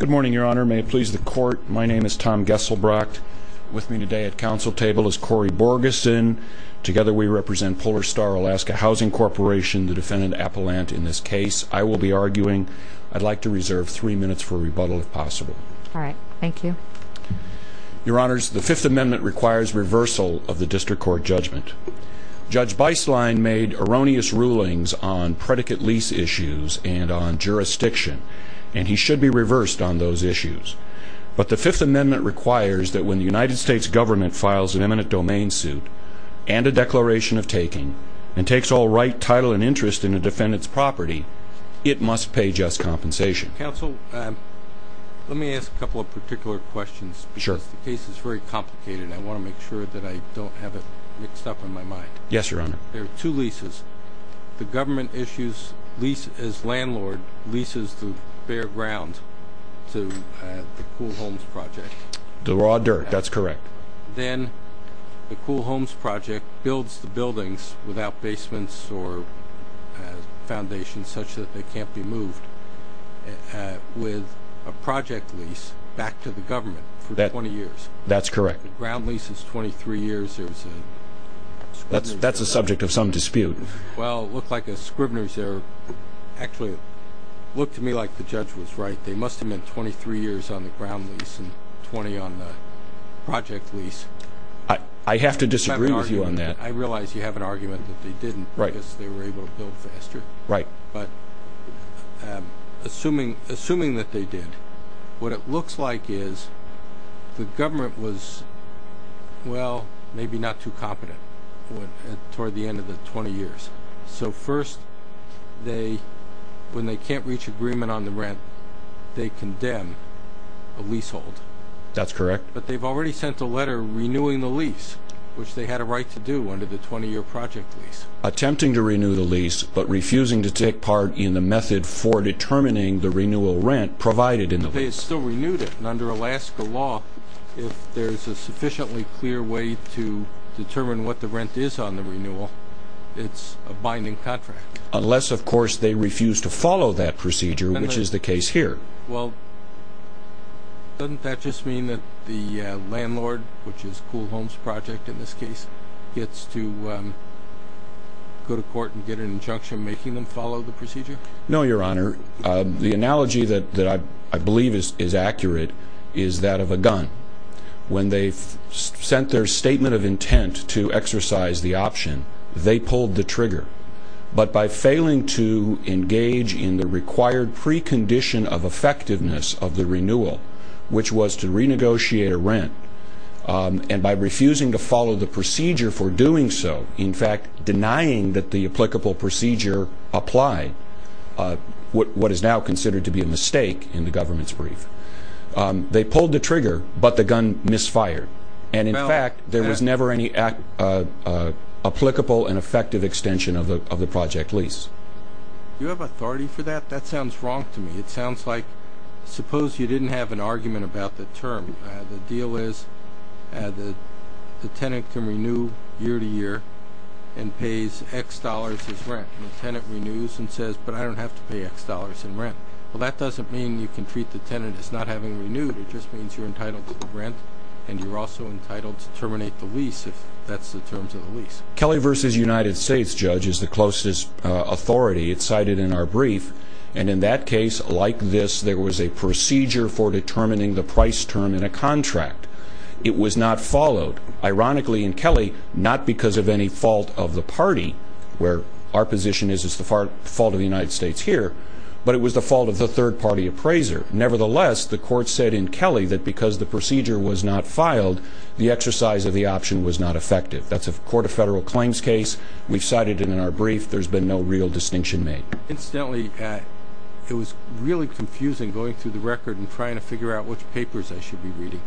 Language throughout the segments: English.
Good morning, Your Honor. May it please the Court, my name is Tom Gesselbrock. With me today at council table is Cori Borgeson. Together we represent Polar Star Alaska Housing Corporation, the defendant Appellant in this case. I will be arguing. I'd like to reserve three minutes for rebuttal if possible. All right. Thank you. Your Honors, the Fifth Amendment requires reversal of the district court judgment. Judge Beislein made erroneous rulings on predicate lease issues and on jurisdiction, and he should be reversed on those issues. But the Fifth Amendment requires that when the United States government files an eminent domain suit and a declaration of taking and takes all right, title, and interest in a defendant's property, it must pay just compensation. Counsel, let me ask a couple of particular questions because the case is very complicated. I want to make sure that I don't have it mixed up in my mind. Yes, Your Honor. There are two leases. The government issues lease as landlord leases the bare ground to the Cool Homes Project. The raw dirt, that's correct. Then the Cool Homes Project builds the buildings without basements or foundations such that they can't be moved with a project lease back to the government for 20 years. That's correct. The ground lease is 23 years. That's a subject of some dispute. Well, it looked like a scrivener's error. Actually, it looked to me like the judge was right. They must have meant 23 years on the ground lease and 20 on the project lease. I have to disagree with you on that. I realize you have an argument that they didn't because they were able to build faster. Right. But assuming that they did, what it looks like is the government was, well, maybe not too competent toward the end of the 20 years. So first, when they can't reach agreement on the rent, they condemn a leasehold. That's correct. But they've already sent a letter renewing the lease, which they had a right to do under the 20-year project lease. Attempting to renew the lease but refusing to take part in the method for determining the renewal rent provided in the lease. They still renewed it, and under Alaska law, if there's a sufficiently clear way to determine what the rent is on the renewal, it's a binding contract. Unless, of course, they refuse to follow that procedure, which is the case here. Well, doesn't that just mean that the landlord, which is Cool Homes Project in this case, gets to go to court and get an injunction making them follow the procedure? No, Your Honor. The analogy that I believe is accurate is that of a gun. When they sent their statement of intent to exercise the option, they pulled the trigger. But by failing to engage in the required precondition of effectiveness of the renewal, which was to renegotiate a rent, and by refusing to follow the procedure for doing so, in fact denying that the applicable procedure applied, what is now considered to be a mistake in the government's brief. They pulled the trigger, but the gun misfired. And, in fact, there was never any applicable and effective extension of the project lease. Do you have authority for that? That sounds wrong to me. It sounds like suppose you didn't have an argument about the term. The deal is the tenant can renew year to year and pays X dollars as rent. And the tenant renews and says, but I don't have to pay X dollars in rent. Well, that doesn't mean you can treat the tenant as not having renewed. It just means you're entitled to the rent, and you're also entitled to terminate the lease if that's the terms of the lease. Kelly v. United States Judge is the closest authority. It's cited in our brief. And in that case, like this, there was a procedure for determining the price term in a contract. It was not followed. Ironically, in Kelly, not because of any fault of the party, where our position is it's the fault of the United States here, but it was the fault of the third-party appraiser. Nevertheless, the court said in Kelly that because the procedure was not filed, the exercise of the option was not effective. That's a court of federal claims case. We've cited it in our brief. There's been no real distinction made. Incidentally, it was really confusing going through the record and trying to figure out which papers I should be reading.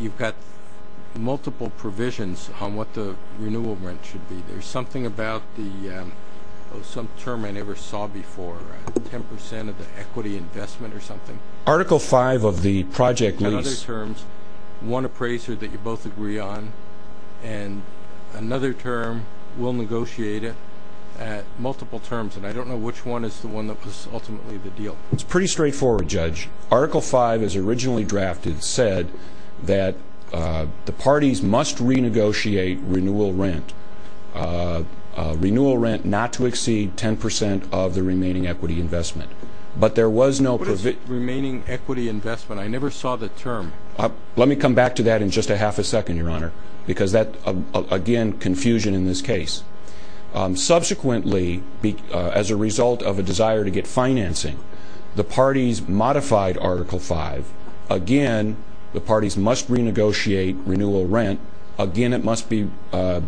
You've got multiple provisions on what the renewal rent should be. There's something about some term I never saw before, 10 percent of the equity investment or something. Article 5 of the project lease. In other terms, one appraiser that you both agree on, and another term will negotiate it at multiple terms, and I don't know which one is the one that was ultimately the deal. It's pretty straightforward, Judge. Article 5, as originally drafted, said that the parties must renegotiate renewal rent, renewal rent not to exceed 10 percent of the remaining equity investment. But there was no provision. What is remaining equity investment? I never saw the term. Let me come back to that in just a half a second, Your Honor, because that, again, confusion in this case. Subsequently, as a result of a desire to get financing, the parties modified Article 5. Again, the parties must renegotiate renewal rent. Again, it must be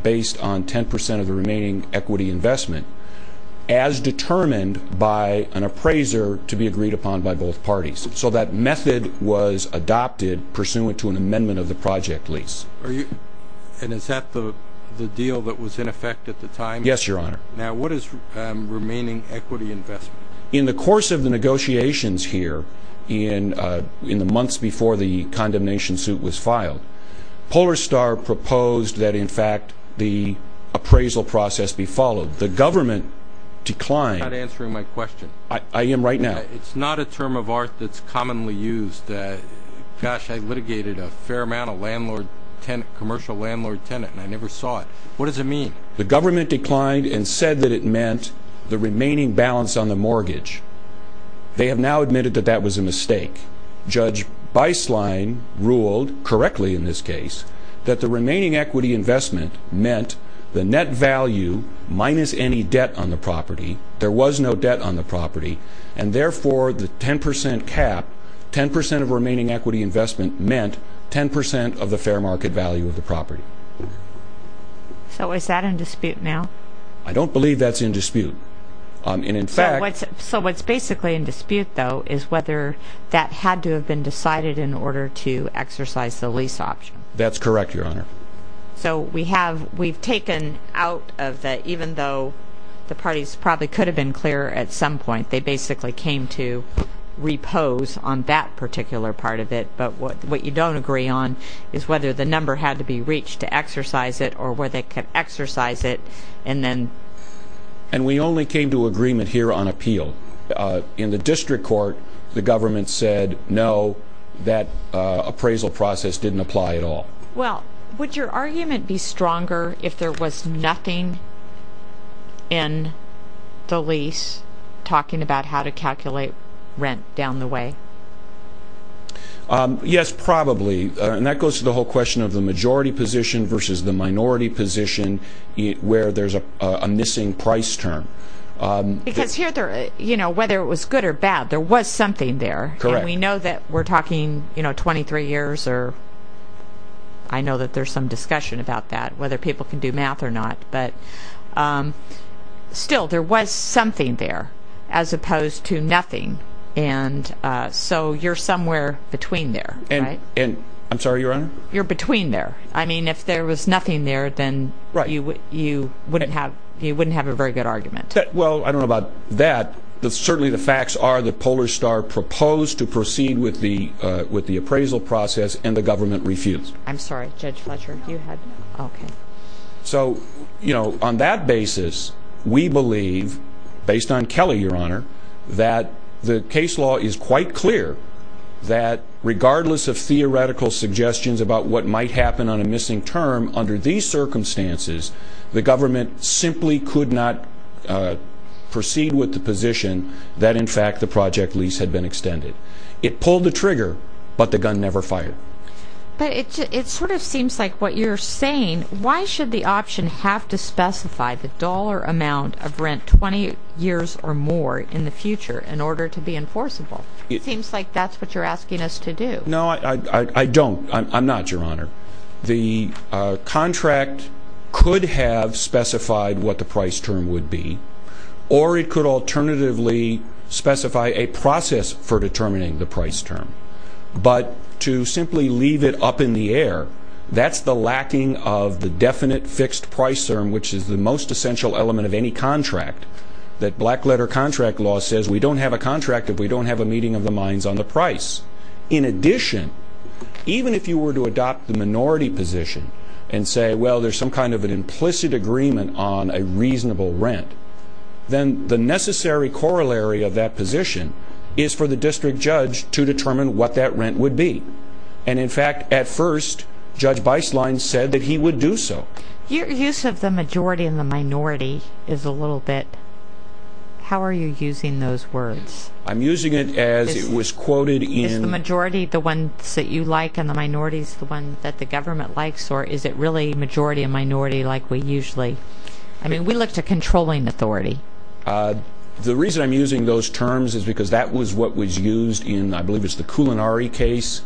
based on 10 percent of the remaining equity investment as determined by an appraiser to be agreed upon by both parties. So that method was adopted pursuant to an amendment of the project lease. And is that the deal that was in effect at the time? Yes, Your Honor. Now, what is remaining equity investment? In the course of the negotiations here in the months before the condemnation suit was filed, Polar Star proposed that, in fact, the appraisal process be followed. The government declined. You're not answering my question. I am right now. It's not a term of art that's commonly used. Gosh, I litigated a fair amount of commercial landlord-tenant, and I never saw it. What does it mean? The government declined and said that it meant the remaining balance on the mortgage. They have now admitted that that was a mistake. Judge Beislein ruled correctly in this case that the remaining equity investment meant the net value minus any debt on the property. There was no debt on the property. And, therefore, the 10 percent cap, 10 percent of remaining equity investment, meant 10 percent of the fair market value of the property. So is that in dispute now? I don't believe that's in dispute. So what's basically in dispute, though, is whether that had to have been decided in order to exercise the lease option. That's correct, Your Honor. So we've taken out of the, even though the parties probably could have been clearer at some point, they basically came to repose on that particular part of it. But what you don't agree on is whether the number had to be reached to exercise it or whether they could exercise it. And we only came to agreement here on appeal. In the district court, the government said, no, that appraisal process didn't apply at all. Well, would your argument be stronger if there was nothing in the lease talking about how to calculate rent down the way? Yes, probably. And that goes to the whole question of the majority position versus the minority position where there's a missing price term. Because here, whether it was good or bad, there was something there. Correct. And we know that we're talking 23 years, or I know that there's some discussion about that, whether people can do math or not. But still, there was something there as opposed to nothing. And so you're somewhere between there, right? I'm sorry, Your Honor? You're between there. I mean, if there was nothing there, then you wouldn't have a very good argument. Well, I don't know about that. Certainly the facts are that Polar Star proposed to proceed with the appraisal process, and the government refused. I'm sorry. Judge Fletcher, you had... Okay. So, you know, on that basis, we believe, based on Kelly, Your Honor, that the case law is quite clear that regardless of theoretical suggestions about what might happen on a missing term, under these circumstances, the government simply could not proceed with the position that, in fact, the project lease had been extended. It pulled the trigger, but the gun never fired. But it sort of seems like what you're saying, why should the option have to specify the dollar amount of rent 20 years or more in the future in order to be enforceable? It seems like that's what you're asking us to do. No, I don't. I'm not, Your Honor. The contract could have specified what the price term would be, or it could alternatively specify a process for determining the price term. But to simply leave it up in the air, that's the lacking of the definite fixed price term, which is the most essential element of any contract, that black-letter contract law says we don't have a contract if we don't have a meeting of the minds on the price. In addition, even if you were to adopt the minority position and say, well, there's some kind of an implicit agreement on a reasonable rent, then the necessary corollary of that position is for the district judge to determine what that rent would be. And, in fact, at first, Judge Beislein said that he would do so. Your use of the majority and the minority is a little bit, how are you using those words? I'm using it as it was quoted in- Is the majority the ones that you like and the minority is the one that the government likes, or is it really majority and minority like we usually-I mean, we look to controlling authority. The reason I'm using those terms is because that was what was used in, I believe it's the Culinari case,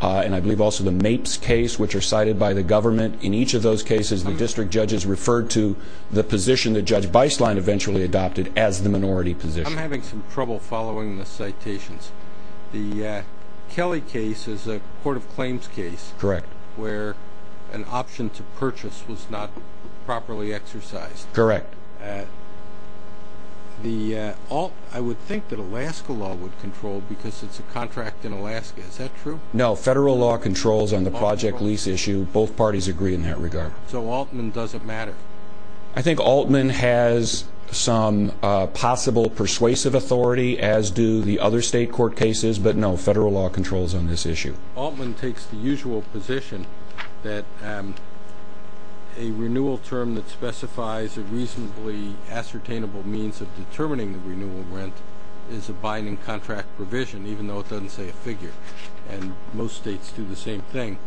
and I believe also the Mapes case, which are cited by the government. In each of those cases, the district judges referred to the position that Judge Beislein eventually adopted as the minority position. I'm having some trouble following the citations. The Kelly case is a court of claims case- Correct. Where an option to purchase was not properly exercised. Correct. I would think that Alaska law would control because it's a contract in Alaska. Is that true? No, federal law controls on the project lease issue. Both parties agree in that regard. So Altman doesn't matter? I think Altman has some possible persuasive authority, as do the other state court cases, but no, federal law controls on this issue. Altman takes the usual position that a renewal term that specifies a reasonably ascertainable means of determining the renewal rent is a binding contract provision, even though it doesn't say a figure. And most states do the same thing,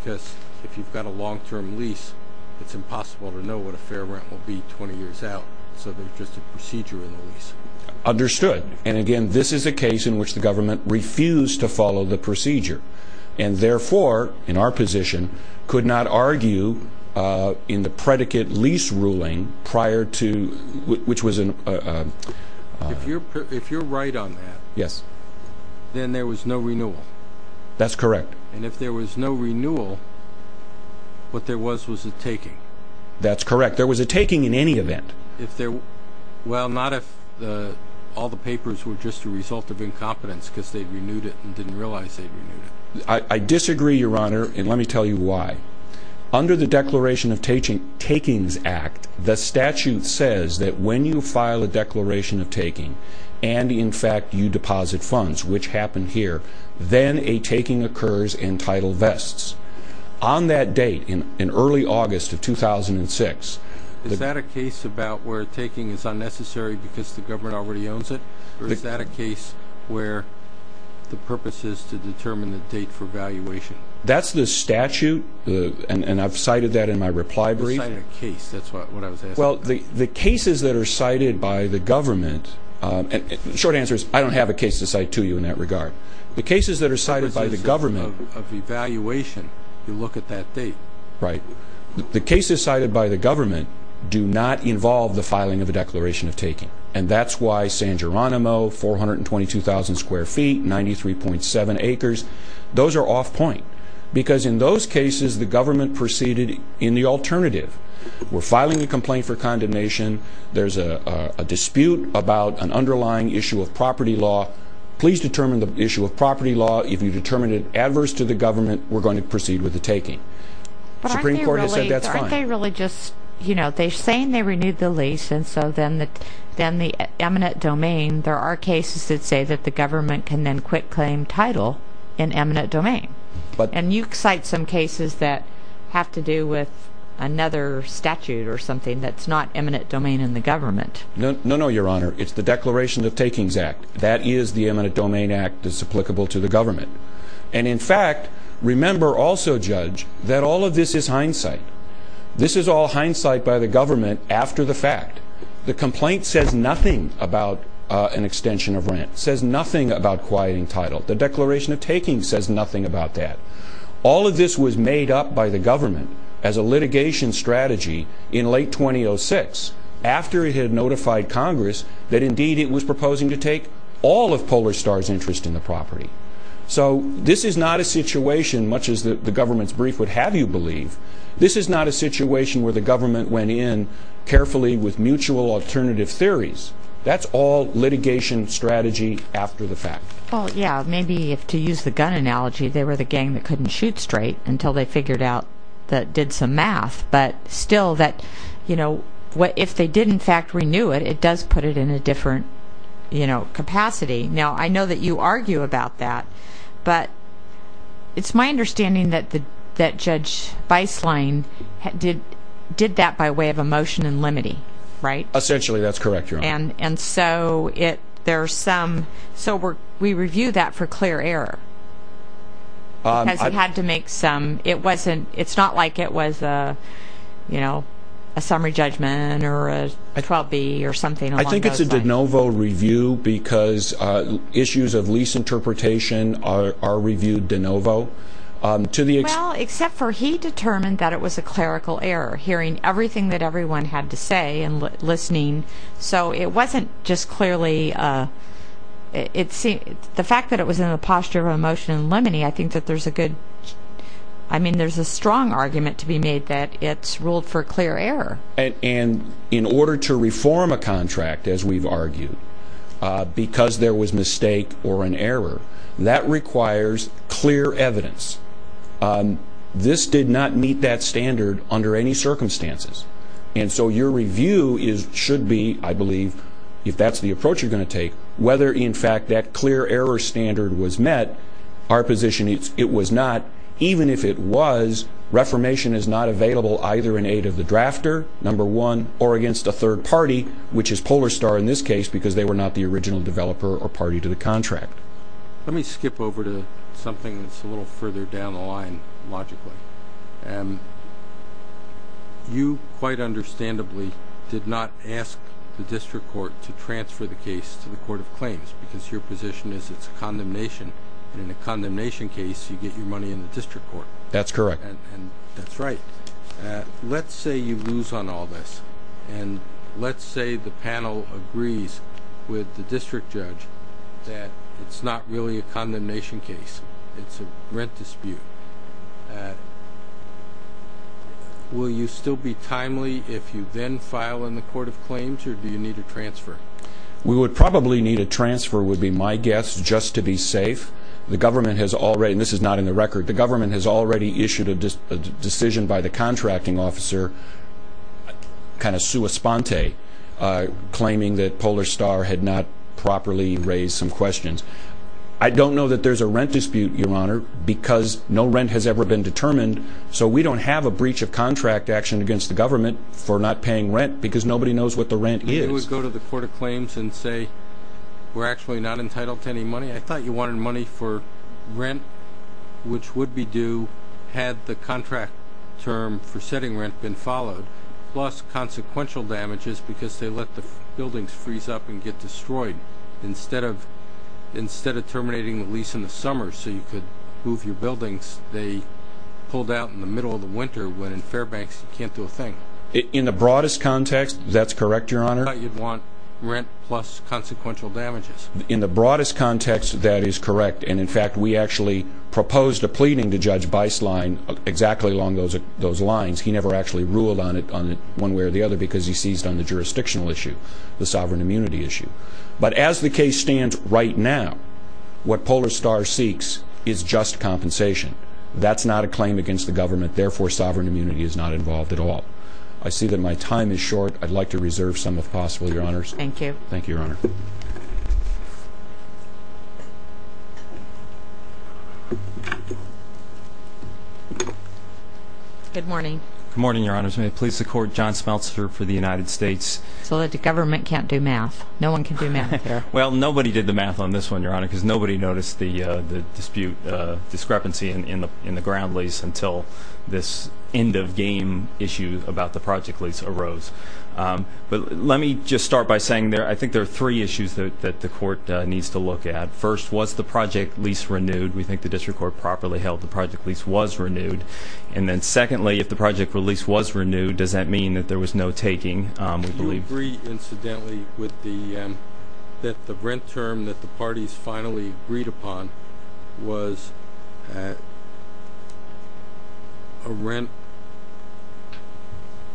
because if you've got a long-term lease, it's impossible to know what a fair rent will be 20 years out, so there's just a procedure in the lease. Understood. And again, this is a case in which the government refused to follow the procedure, and therefore, in our position, could not argue in the predicate lease ruling prior to- If you're right on that- Yes. Then there was no renewal. That's correct. And if there was no renewal, what there was was a taking. That's correct. There was a taking in any event. Well, not if all the papers were just a result of incompetence, because they'd renewed it and didn't realize they'd renewed it. I disagree, Your Honor, and let me tell you why. Under the Declaration of Takings Act, the statute says that when you file a declaration of taking and, in fact, you deposit funds, which happened here, then a taking occurs and title vests. On that date, in early August of 2006- Is that a case about where taking is unnecessary because the government already owns it, or is that a case where the purpose is to determine the date for valuation? That's the statute, and I've cited that in my reply brief. You cited a case. That's what I was asking about. Well, the cases that are cited by the government- The short answer is I don't have a case to cite to you in that regard. The cases that are cited by the government- That was just a case of evaluation. You look at that date. Right. The cases cited by the government do not involve the filing of a declaration of taking, and that's why San Geronimo, 422,000 square feet, 93.7 acres, those are off point. Because in those cases, the government proceeded in the alternative. We're filing a complaint for condemnation. There's a dispute about an underlying issue of property law. Please determine the issue of property law. If you determine it adverse to the government, we're going to proceed with the taking. But aren't they really just- In the eminent domain, there are cases that say that the government can then quit claim title in eminent domain. And you cite some cases that have to do with another statute or something that's not eminent domain in the government. No, no, Your Honor. It's the Declaration of Takings Act. That is the eminent domain act that's applicable to the government. And in fact, remember also, Judge, that all of this is hindsight. This is all hindsight by the government after the fact. The complaint says nothing about an extension of rent. It says nothing about quieting title. The Declaration of Takings says nothing about that. All of this was made up by the government as a litigation strategy in late 2006 after it had notified Congress that indeed it was proposing to take all of Polar Star's interest in the property. So this is not a situation, much as the government's brief would have you believe, this is not a situation where the government went in carefully with mutual alternative theories. That's all litigation strategy after the fact. Well, yeah, maybe to use the gun analogy, they were the gang that couldn't shoot straight until they figured out that did some math. But still, if they did in fact renew it, it does put it in a different capacity. Now, I know that you argue about that. But it's my understanding that Judge Beislein did that by way of a motion in limity, right? Essentially, that's correct, Your Honor. And so we review that for clear error because he had to make some. It's not like it was a summary judgment or a 12B or something along those lines. I think it's a de novo review because issues of lease interpretation are reviewed de novo. Well, except for he determined that it was a clerical error, hearing everything that everyone had to say and listening. So it wasn't just clearly... The fact that it was in the posture of a motion in limity, I think that there's a good... I mean, there's a strong argument to be made that it's ruled for clear error. And in order to reform a contract, as we've argued, because there was mistake or an error, that requires clear evidence. This did not meet that standard under any circumstances. And so your review should be, I believe, if that's the approach you're going to take, whether in fact that clear error standard was met. Our position is it was not. Even if it was, reformation is not available either in aid of the drafter, number one, or against a third party, which is Polar Star in this case because they were not the original developer or party to the contract. Let me skip over to something that's a little further down the line, logically. You, quite understandably, did not ask the District Court to transfer the case to the Court of Claims because your position is it's a condemnation, and in a condemnation case, you get your money in the District Court. That's correct. And that's right. Let's say you lose on all this, and let's say the panel agrees with the District Judge that it's not really a condemnation case. It's a rent dispute. Will you still be timely if you then file in the Court of Claims, or do you need a transfer? We would probably need a transfer, would be my guess, just to be safe. The government has already, and this is not in the record, the government has already issued a decision by the contracting officer, kind of sua sponte, claiming that Polar Star had not properly raised some questions. I don't know that there's a rent dispute, Your Honor, because no rent has ever been determined, so we don't have a breach of contract action against the government for not paying rent because nobody knows what the rent is. You would go to the Court of Claims and say we're actually not entitled to any money. I thought you wanted money for rent, which would be due had the contract term for setting rent been followed, plus consequential damages because they let the buildings freeze up and get destroyed. Instead of terminating the lease in the summer so you could move your buildings, they pulled out in the middle of the winter when in Fairbanks you can't do a thing. In the broadest context, that's correct, Your Honor. I thought you'd want rent plus consequential damages. In the broadest context, that is correct. And, in fact, we actually proposed a pleading to Judge Beislein exactly along those lines. He never actually ruled on it one way or the other because he seized on the jurisdictional issue, the sovereign immunity issue. But as the case stands right now, what Polar Star seeks is just compensation. That's not a claim against the government. Therefore, sovereign immunity is not involved at all. I see that my time is short. I'd like to reserve some if possible, Your Honors. Thank you, Your Honor. Good morning. Good morning, Your Honors. May it please the Court, John Smeltzer for the United States. So that the government can't do math. No one can do math here. Well, nobody did the math on this one, Your Honor, because nobody noticed the dispute discrepancy in the ground lease until this end-of-game issue about the project lease arose. But let me just start by saying I think there are three issues that the Court needs to look at. First, was the project lease renewed? We think the district court properly held the project lease was renewed. And then, secondly, if the project lease was renewed, does that mean that there was no taking, we believe? I agree, incidentally, that the rent term that the parties finally agreed upon was a rent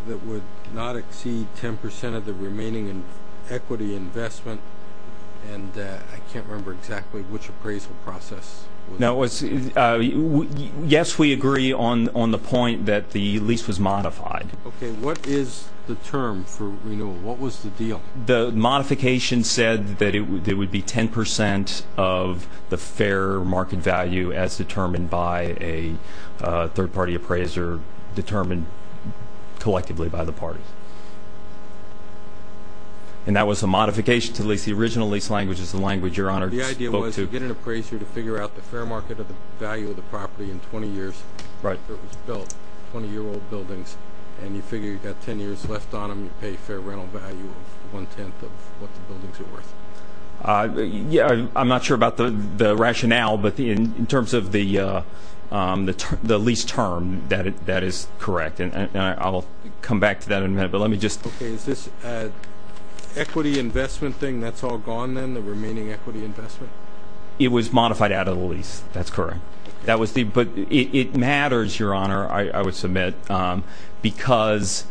that would not exceed 10 percent of the remaining equity investment. And I can't remember exactly which appraisal process. Yes, we agree on the point that the lease was modified. Okay, what is the term for renewal? What was the deal? The modification said that it would be 10 percent of the fair market value as determined by a third-party appraiser, determined collectively by the parties. And that was a modification to the lease. The original lease language is the language Your Honor spoke to. So you get an appraiser to figure out the fair market value of the property in 20 years after it was built, 20-year-old buildings, and you figure you've got 10 years left on them, you pay fair rental value of one-tenth of what the buildings are worth. I'm not sure about the rationale, but in terms of the lease term, that is correct. And I'll come back to that in a minute. Okay, is this an equity investment thing? That's all gone then, the remaining equity investment? It was modified out of the lease. That's correct. But it matters, Your Honor, I would submit, because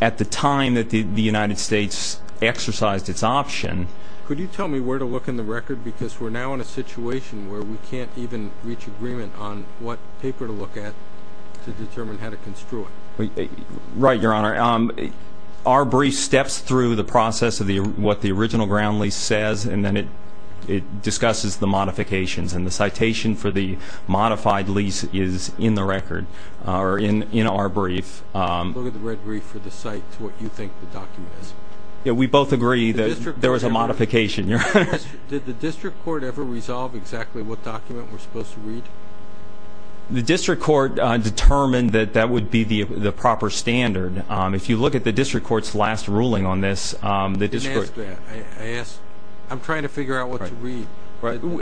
at the time that the United States exercised its option Could you tell me where to look in the record? Because we're now in a situation where we can't even reach agreement on what paper to look at to determine how to construe it. Right, Your Honor. Our brief steps through the process of what the original ground lease says, and then it discusses the modifications, and the citation for the modified lease is in the record, or in our brief. Look at the red brief for the site to what you think the document is. We both agree that there was a modification, Your Honor. Did the district court ever resolve exactly what document we're supposed to read? The district court determined that that would be the proper standard. If you look at the district court's last ruling on this, the district court I'm trying to figure out what to read.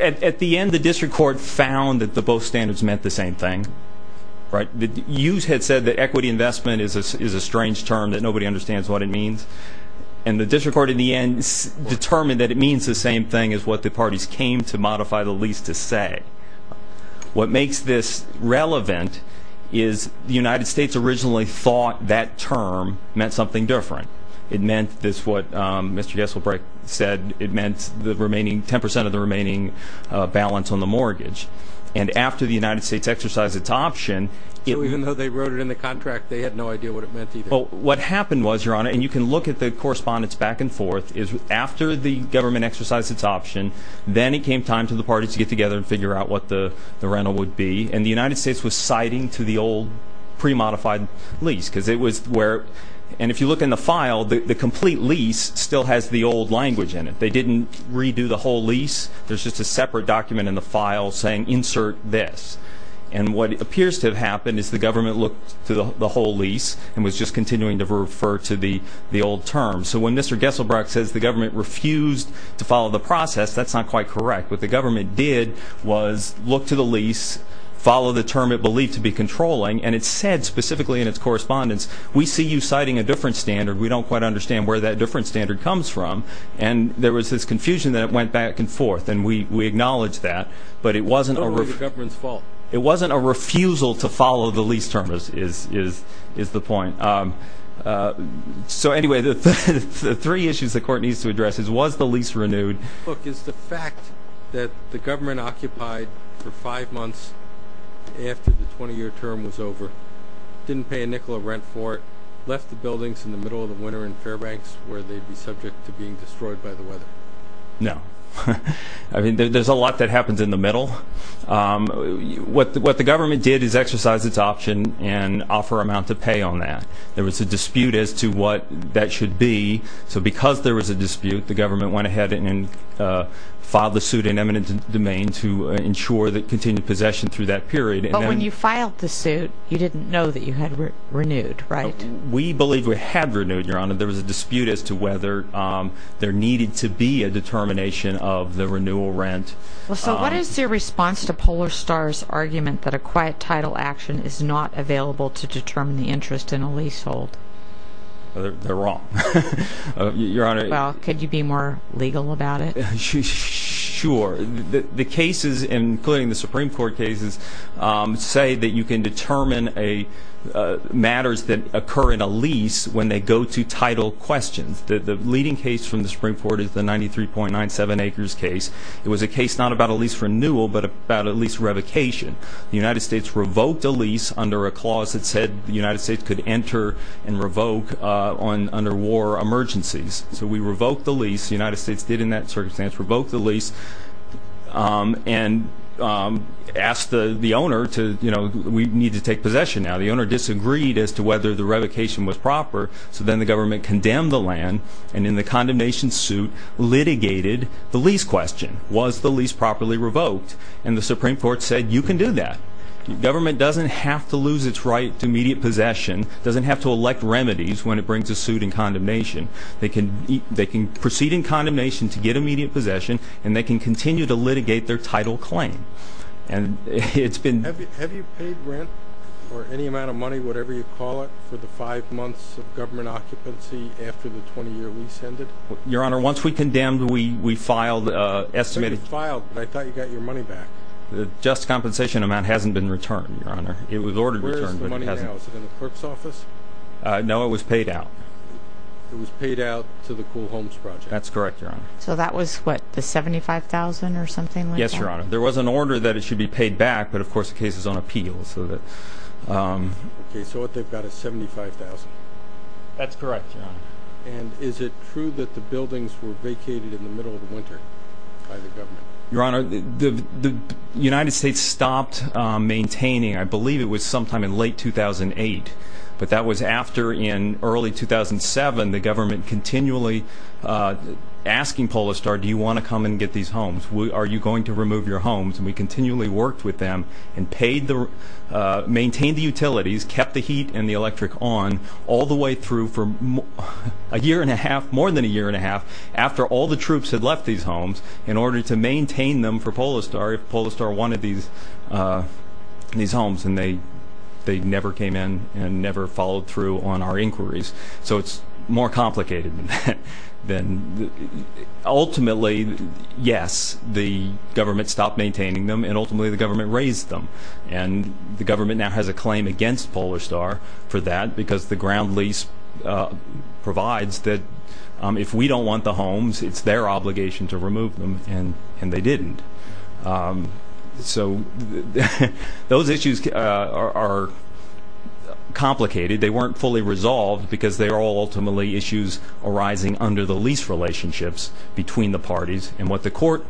At the end, the district court found that both standards meant the same thing. You had said that equity investment is a strange term, that nobody understands what it means. And the district court, in the end, determined that it means the same thing as what the parties came to modify the lease to say. What makes this relevant is the United States originally thought that term meant something different. It meant this, what Mr. Gesselbrecht said, it meant 10% of the remaining balance on the mortgage. And after the United States exercised its option, it Even though they wrote it in the contract, they had no idea what it meant either. What happened was, Your Honor, and you can look at the correspondence back and forth, is after the government exercised its option, then it came time for the parties to get together and figure out what the rental would be. And the United States was citing to the old, pre-modified lease. And if you look in the file, the complete lease still has the old language in it. They didn't redo the whole lease. There's just a separate document in the file saying, insert this. And what appears to have happened is the government looked to the whole lease and was just continuing to refer to the old term. So when Mr. Gesselbrecht says the government refused to follow the process, that's not quite correct. What the government did was look to the lease, follow the term it believed to be controlling, and it said specifically in its correspondence, we see you citing a different standard. We don't quite understand where that different standard comes from. And there was this confusion that went back and forth, and we acknowledge that. It wasn't the government's fault. It wasn't a refusal to follow the lease term, is the point. So anyway, the three issues the court needs to address is, was the lease renewed? Look, is the fact that the government occupied for five months after the 20-year term was over, didn't pay a nickel of rent for it, left the buildings in the middle of the winter in Fairbanks where they'd be subject to being destroyed by the weather? No. I mean, there's a lot that happens in the middle. What the government did is exercise its option and offer amount to pay on that. There was a dispute as to what that should be. So because there was a dispute, the government went ahead and filed the suit in eminent domain to ensure that continued possession through that period. But when you filed the suit, you didn't know that you had renewed, right? We believed we had renewed, Your Honor. There was a dispute as to whether there needed to be a determination of the renewal rent. So what is your response to Polar Star's argument that a quiet title action is not available to determine the interest in a leasehold? They're wrong. Well, could you be more legal about it? Sure. The cases, including the Supreme Court cases, say that you can determine matters that occur in a lease when they go to title questions. The leading case from the Supreme Court is the 93.97 acres case. It was a case not about a lease renewal but about a lease revocation. The United States revoked a lease under a clause that said the United States could enter and revoke under war emergencies. So we revoked the lease. The United States did in that circumstance revoke the lease and asked the owner to, you know, we need to take possession now. The owner disagreed as to whether the revocation was proper, so then the government condemned the land and in the condemnation suit litigated the lease question. Was the lease properly revoked? And the Supreme Court said you can do that. Government doesn't have to lose its right to immediate possession, doesn't have to elect remedies when it brings a suit in condemnation. They can proceed in condemnation to get immediate possession, and they can continue to litigate their title claim. Have you paid rent or any amount of money, whatever you call it, for the five months of government occupancy after the 20-year lease ended? Your Honor, once we condemned, we filed an estimate. You filed, but I thought you got your money back. The just compensation amount hasn't been returned, Your Honor. Where is the money now? Is it in the clerk's office? No, it was paid out. It was paid out to the Cool Homes Project? That's correct, Your Honor. So that was, what, the $75,000 or something like that? Yes, Your Honor. There was an order that it should be paid back, but, of course, the case is on appeal. Okay, so what they've got is $75,000. That's correct, Your Honor. And is it true that the buildings were vacated in the middle of the winter by the government? Your Honor, the United States stopped maintaining, I believe it was sometime in late 2008, but that was after, in early 2007, the government continually asking Polestar, do you want to come and get these homes? Are you going to remove your homes? And we continually worked with them and paid the, maintained the utilities, kept the heat and the electric on all the way through for a year and a half, more than a year and a half, after all the troops had left these homes, in order to maintain them for Polestar if Polestar wanted these homes. And they never came in and never followed through on our inquiries. So it's more complicated than that. Ultimately, yes, the government stopped maintaining them, and ultimately the government raised them. And the government now has a claim against Polestar for that, because the ground lease provides that if we don't want the homes, it's their obligation to remove them, and they didn't. So those issues are complicated. They weren't fully resolved because they are all ultimately issues arising under the lease relationships between the parties. And what the court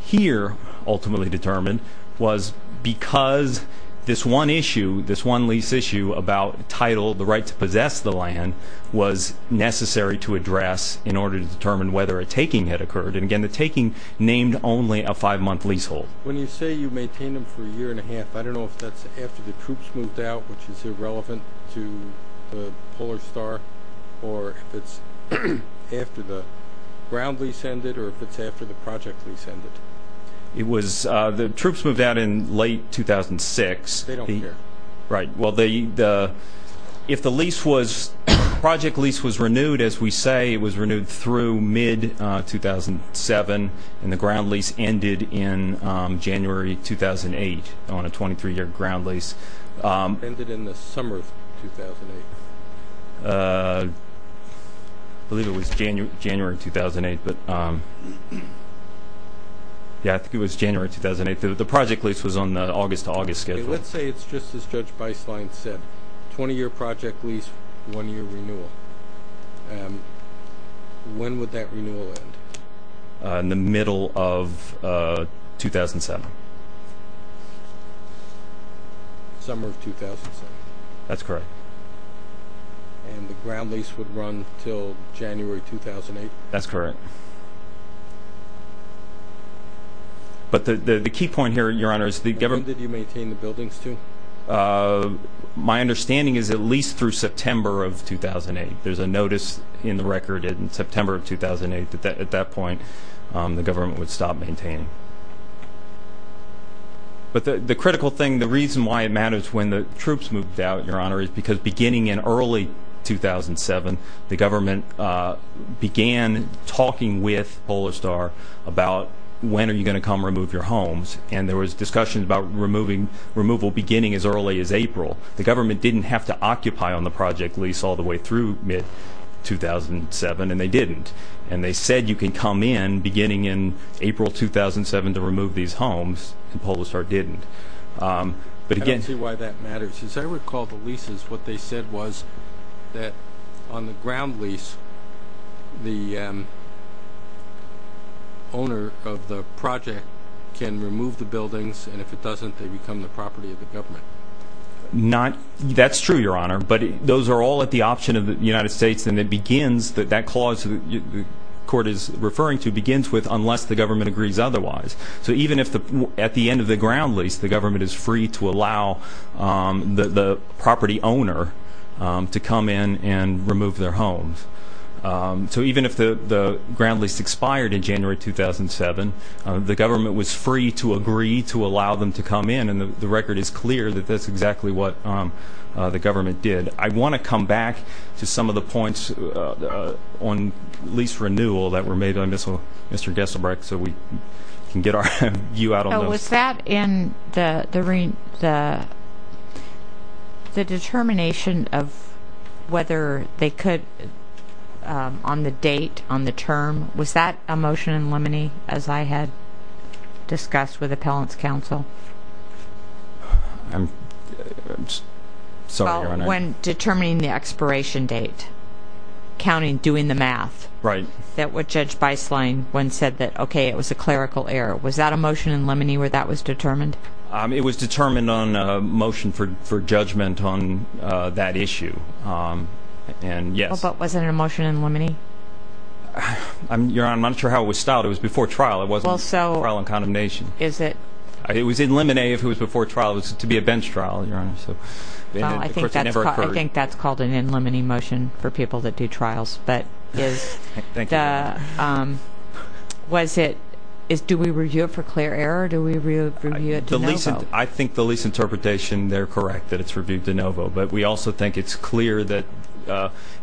here ultimately determined was because this one issue, this one lease issue about title, the right to possess the land, was necessary to address in order to determine whether a taking had occurred. And again, the taking named only a five-month leasehold. When you say you maintained them for a year and a half, I don't know if that's after the troops moved out, which is irrelevant to Polestar, or if it's after the ground lease ended, or if it's after the project lease ended. The troops moved out in late 2006. They don't care. Right. Well, if the lease was, the project lease was renewed, as we say, it was renewed through mid-2007, and the ground lease ended in January 2008 on a 23-year ground lease. It ended in the summer of 2008. I believe it was January 2008. Yeah, I think it was January 2008. The project lease was on the August-to-August schedule. Let's say it's just as Judge Beislein said, 20-year project lease, one-year renewal. When would that renewal end? In the middle of 2007. Summer of 2007. That's correct. And the ground lease would run until January 2008? That's correct. But the key point here, Your Honor, is the government When did you maintain the buildings to? My understanding is at least through September of 2008. There's a notice in the record in September of 2008 that at that point the government would stop maintaining. But the critical thing, the reason why it matters when the troops moved out, Your Honor, is because beginning in early 2007, the government began talking with Polar Star about when are you going to come remove your homes, The government didn't have to occupy on the project lease all the way through mid-2007, and they didn't. And they said you can come in beginning in April 2007 to remove these homes, and Polar Star didn't. I don't see why that matters. As I recall the leases, what they said was that on the ground lease, and if it doesn't, they become the property of the government. That's true, Your Honor, but those are all at the option of the United States, and that clause the court is referring to begins with unless the government agrees otherwise. So even if at the end of the ground lease the government is free to allow the property owner to come in and remove their homes, so even if the ground lease expired in January 2007, the government was free to agree to allow them to come in, and the record is clear that that's exactly what the government did. I want to come back to some of the points on lease renewal that were made on this one. Mr. Gesselbrecht, so we can get you out on those. Was that in the determination of whether they could, on the date, on the term, was that a motion in limine, as I had discussed with appellant's counsel? I'm sorry, Your Honor. Well, when determining the expiration date, counting, doing the math, that what Judge Beislein once said that, okay, it was a clerical error. Was that a motion in limine where that was determined? It was determined on a motion for judgment on that issue, and yes. But was it a motion in limine? Your Honor, I'm not sure how it was styled. It was before trial. It wasn't trial and condemnation. Is it? It was in limine if it was before trial. It was to be a bench trial, Your Honor. I think that's called an in limine motion for people that do trials. Thank you. Do we review it for clear error? Do we review it de novo? I think the lease interpretation, they're correct that it's reviewed de novo. But we also think it's clear that,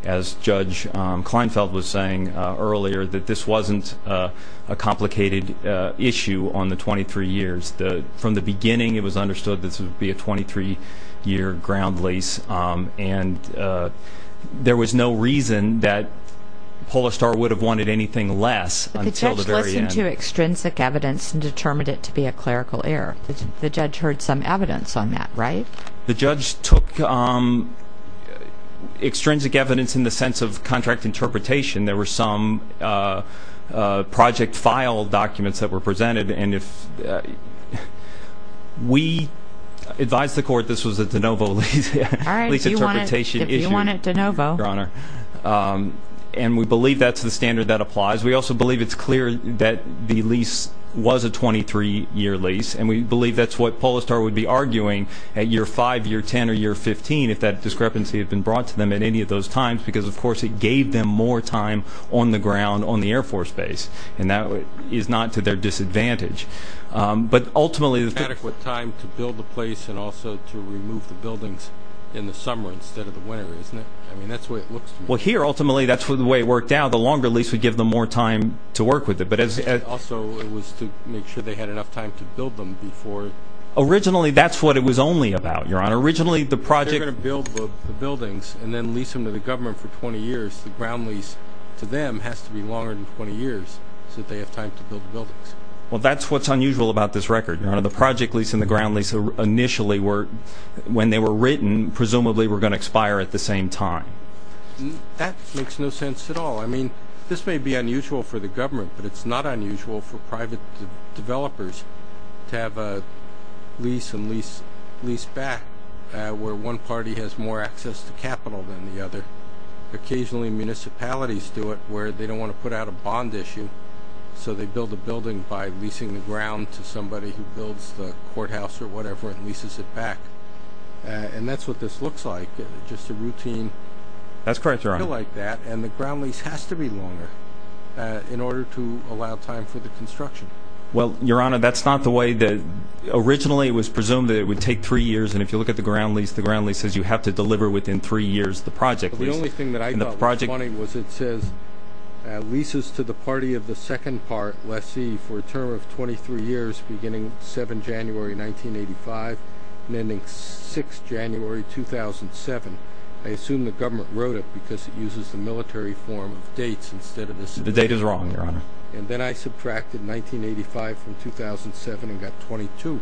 as Judge Kleinfeld was saying earlier, that this wasn't a complicated issue on the 23 years. From the beginning, it was understood this would be a 23-year ground lease, and there was no reason that Polestar would have wanted anything less until the very end. But the judge listened to extrinsic evidence and determined it to be a clerical error. The judge heard some evidence on that, right? The judge took extrinsic evidence in the sense of contract interpretation. We advised the court this was a de novo lease. All right. If you want it de novo. And we believe that's the standard that applies. We also believe it's clear that the lease was a 23-year lease, and we believe that's what Polestar would be arguing at year 5, year 10, or year 15 if that discrepancy had been brought to them at any of those times because, of course, it gave them more time on the ground on the Air Force Base. And that is not to their disadvantage. But, ultimately, the – Adequate time to build the place and also to remove the buildings in the summer instead of the winter, isn't it? I mean, that's the way it looks to me. Well, here, ultimately, that's the way it worked out. The longer lease would give them more time to work with it. Also, it was to make sure they had enough time to build them before – Originally, that's what it was only about, Your Honor. Originally, the project – They're going to build the buildings and then lease them to the government for 20 years. The ground lease to them has to be longer than 20 years so that they have time to build the buildings. Well, that's what's unusual about this record, Your Honor. The project lease and the ground lease initially were – When they were written, presumably, were going to expire at the same time. That makes no sense at all. I mean, this may be unusual for the government, but it's not unusual for private developers to have a lease and lease back where one party has more access to capital than the other, and occasionally municipalities do it where they don't want to put out a bond issue, so they build a building by leasing the ground to somebody who builds the courthouse or whatever and leases it back. And that's what this looks like, just a routine – That's correct, Your Honor. – deal like that, and the ground lease has to be longer in order to allow time for the construction. Well, Your Honor, that's not the way that – Originally, it was presumed that it would take three years, and if you look at the ground lease, the ground lease says you have to deliver within three years the project lease. The only thing that I thought was funny was it says leases to the party of the second part, lessee, for a term of 23 years beginning 7 January 1985 and ending 6 January 2007. I assume the government wrote it because it uses the military form of dates instead of the – The date is wrong, Your Honor. And then I subtracted 1985 from 2007 and got 22.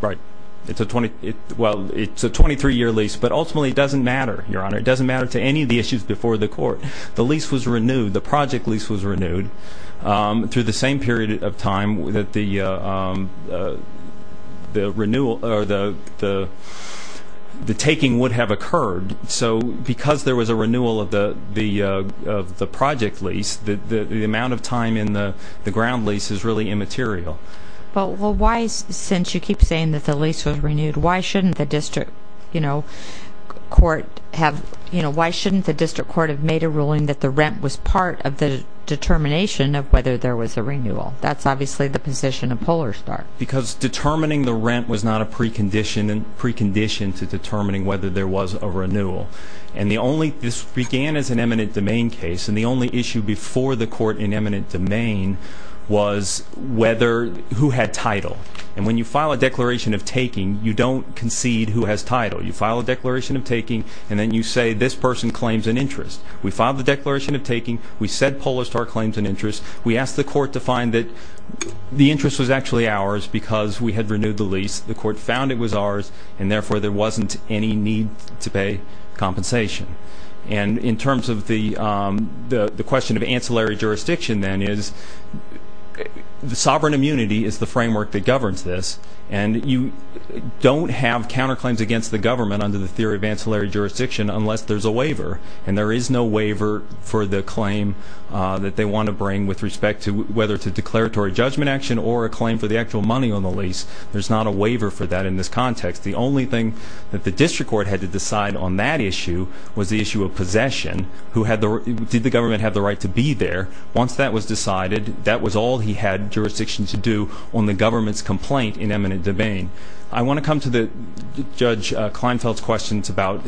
Right. It's a 23-year lease, but ultimately it doesn't matter, Your Honor. It doesn't matter to any of the issues before the court. The lease was renewed, the project lease was renewed, through the same period of time that the renewal or the taking would have occurred. So because there was a renewal of the project lease, the amount of time in the ground lease is really immaterial. Well, why, since you keep saying that the lease was renewed, why shouldn't the district court have made a ruling that the rent was part of the determination of whether there was a renewal? That's obviously the position of Polar Star. Because determining the rent was not a precondition to determining whether there was a renewal. And this began as an eminent domain case, and the only issue before the court in eminent domain was whether – who had title. And when you file a declaration of taking, you don't concede who has title. You file a declaration of taking, and then you say this person claims an interest. We filed the declaration of taking. We said Polar Star claims an interest. We asked the court to find that the interest was actually ours because we had renewed the lease. The court found it was ours, and therefore there wasn't any need to pay compensation. And in terms of the question of ancillary jurisdiction, then, is the sovereign immunity is the framework that governs this, and you don't have counterclaims against the government under the theory of ancillary jurisdiction unless there's a waiver. And there is no waiver for the claim that they want to bring with respect to whether it's a declaratory judgment action or a claim for the actual money on the lease. There's not a waiver for that in this context. The only thing that the district court had to decide on that issue was the issue of possession. Did the government have the right to be there? Once that was decided, that was all he had jurisdiction to do on the government's complaint in eminent domain. I want to come to Judge Kleinfeld's questions about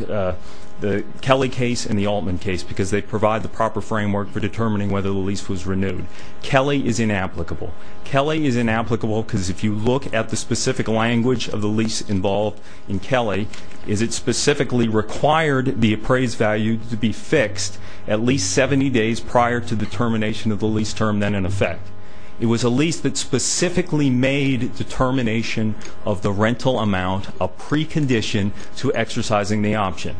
the Kelly case and the Altman case because they provide the proper framework for determining whether the lease was renewed. Kelly is inapplicable. Kelly is inapplicable because if you look at the specific language of the lease involved in Kelly, is it specifically required the appraised value to be fixed at least 70 days prior to the termination of the lease term than in effect. It was a lease that specifically made determination of the rental amount a precondition to exercising the option.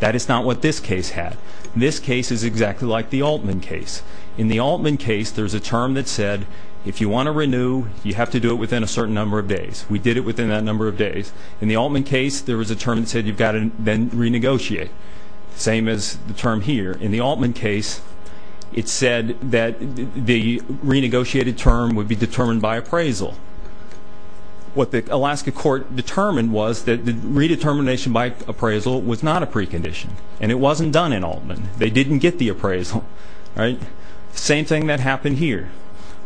That is not what this case had. This case is exactly like the Altman case. In the Altman case, there's a term that said if you want to renew, you have to do it within a certain number of days. We did it within that number of days. In the Altman case, there was a term that said you've got to then renegotiate. Same as the term here. In the Altman case, it said that the renegotiated term would be determined by appraisal. What the Alaska court determined was that the redetermination by appraisal was not a precondition, and it wasn't done in Altman. They didn't get the appraisal. Same thing that happened here.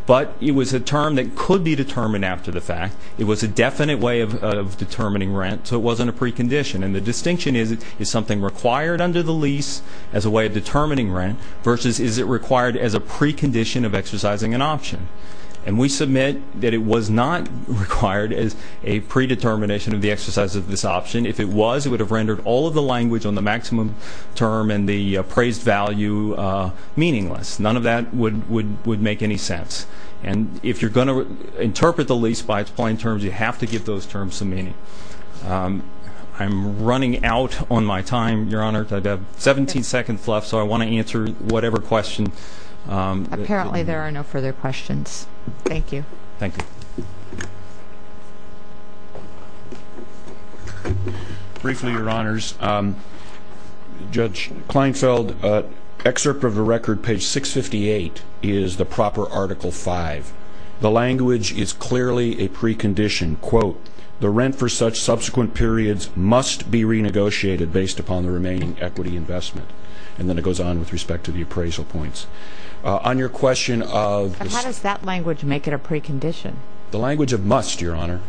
But it was a term that could be determined after the fact. It was a definite way of determining rent, so it wasn't a precondition. And the distinction is, is something required under the lease as a way of determining rent versus is it required as a precondition of exercising an option? And we submit that it was not required as a predetermination of the exercise of this option. If it was, it would have rendered all of the language on the maximum term and the appraised value meaningless. None of that would make any sense. And if you're going to interpret the lease by its plain terms, you have to give those terms some meaning. I'm running out on my time, Your Honor. I've got 17 seconds left, so I want to answer whatever question. Apparently there are no further questions. Thank you. Thank you. Briefly, Your Honors, Judge Kleinfeld, excerpt of the record, page 658, is the proper Article V. The language is clearly a precondition. Quote, the rent for such subsequent periods must be renegotiated based upon the remaining equity investment. And then it goes on with respect to the appraisal points. How does that language make it a precondition? The language of must, Your Honor.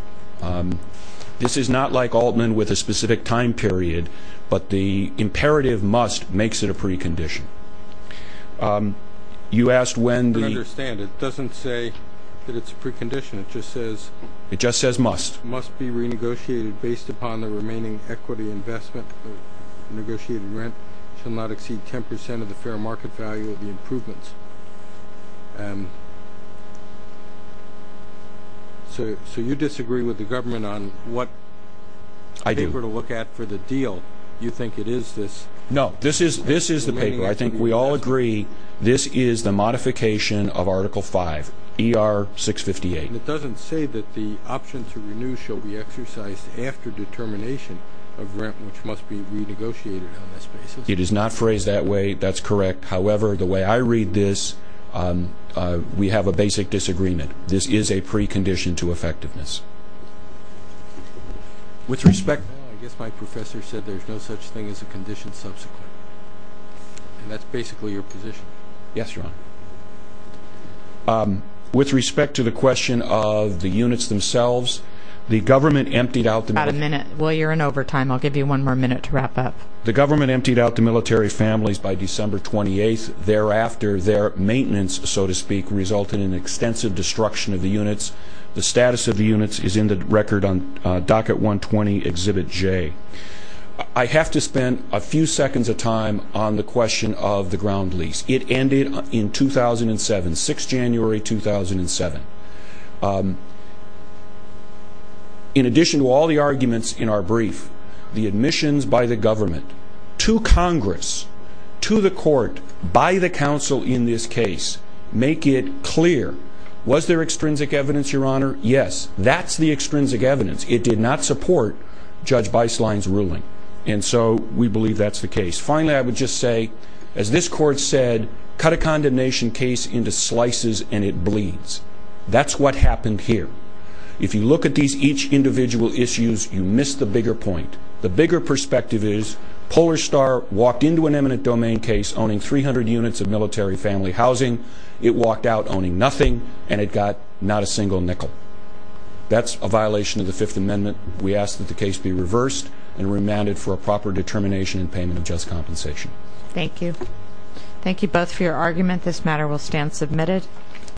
This is not like Altman with a specific time period, but the imperative must makes it a precondition. You asked when the- I don't understand. It doesn't say that it's a precondition. It just says- It just says must. Must be renegotiated based upon the remaining equity investment. Negotiated rent shall not exceed 10 percent of the fair market value of the improvements. So you disagree with the government on what- I do. Paper to look at for the deal. You think it is this- No, this is the paper. I think we all agree this is the modification of Article V, ER 658. And it doesn't say that the option to renew shall be exercised after determination of rent, which must be renegotiated on this basis. It is not phrased that way. That's correct. However, the way I read this, we have a basic disagreement. This is a precondition to effectiveness. With respect- I guess my professor said there's no such thing as a condition subsequent. And that's basically your position. Yes, Your Honor. With respect to the question of the units themselves, the government emptied out- About a minute. Well, you're in overtime. I'll give you one more minute to wrap up. The government emptied out the military families by December 28th. Thereafter, their maintenance, so to speak, resulted in extensive destruction of the units. The status of the units is in the record on Docket 120, Exhibit J. I have to spend a few seconds of time on the question of the ground lease. It ended in 2007, 6 January 2007. In addition to all the arguments in our brief, the admissions by the government to Congress, to the court, by the counsel in this case, make it clear. Was there extrinsic evidence, Your Honor? Yes. That's the extrinsic evidence. It did not support Judge Beislein's ruling. And so we believe that's the case. Finally, I would just say, as this court said, cut a condemnation case into slices and it bleeds. That's what happened here. If you look at each individual issue, you miss the bigger point. The bigger perspective is Polar Star walked into an eminent domain case owning 300 units of military family housing. It walked out owning nothing, and it got not a single nickel. That's a violation of the Fifth Amendment. We ask that the case be reversed and remanded for a proper determination and payment of just compensation. Thank you. Thank you both for your argument. This matter will stand submitted.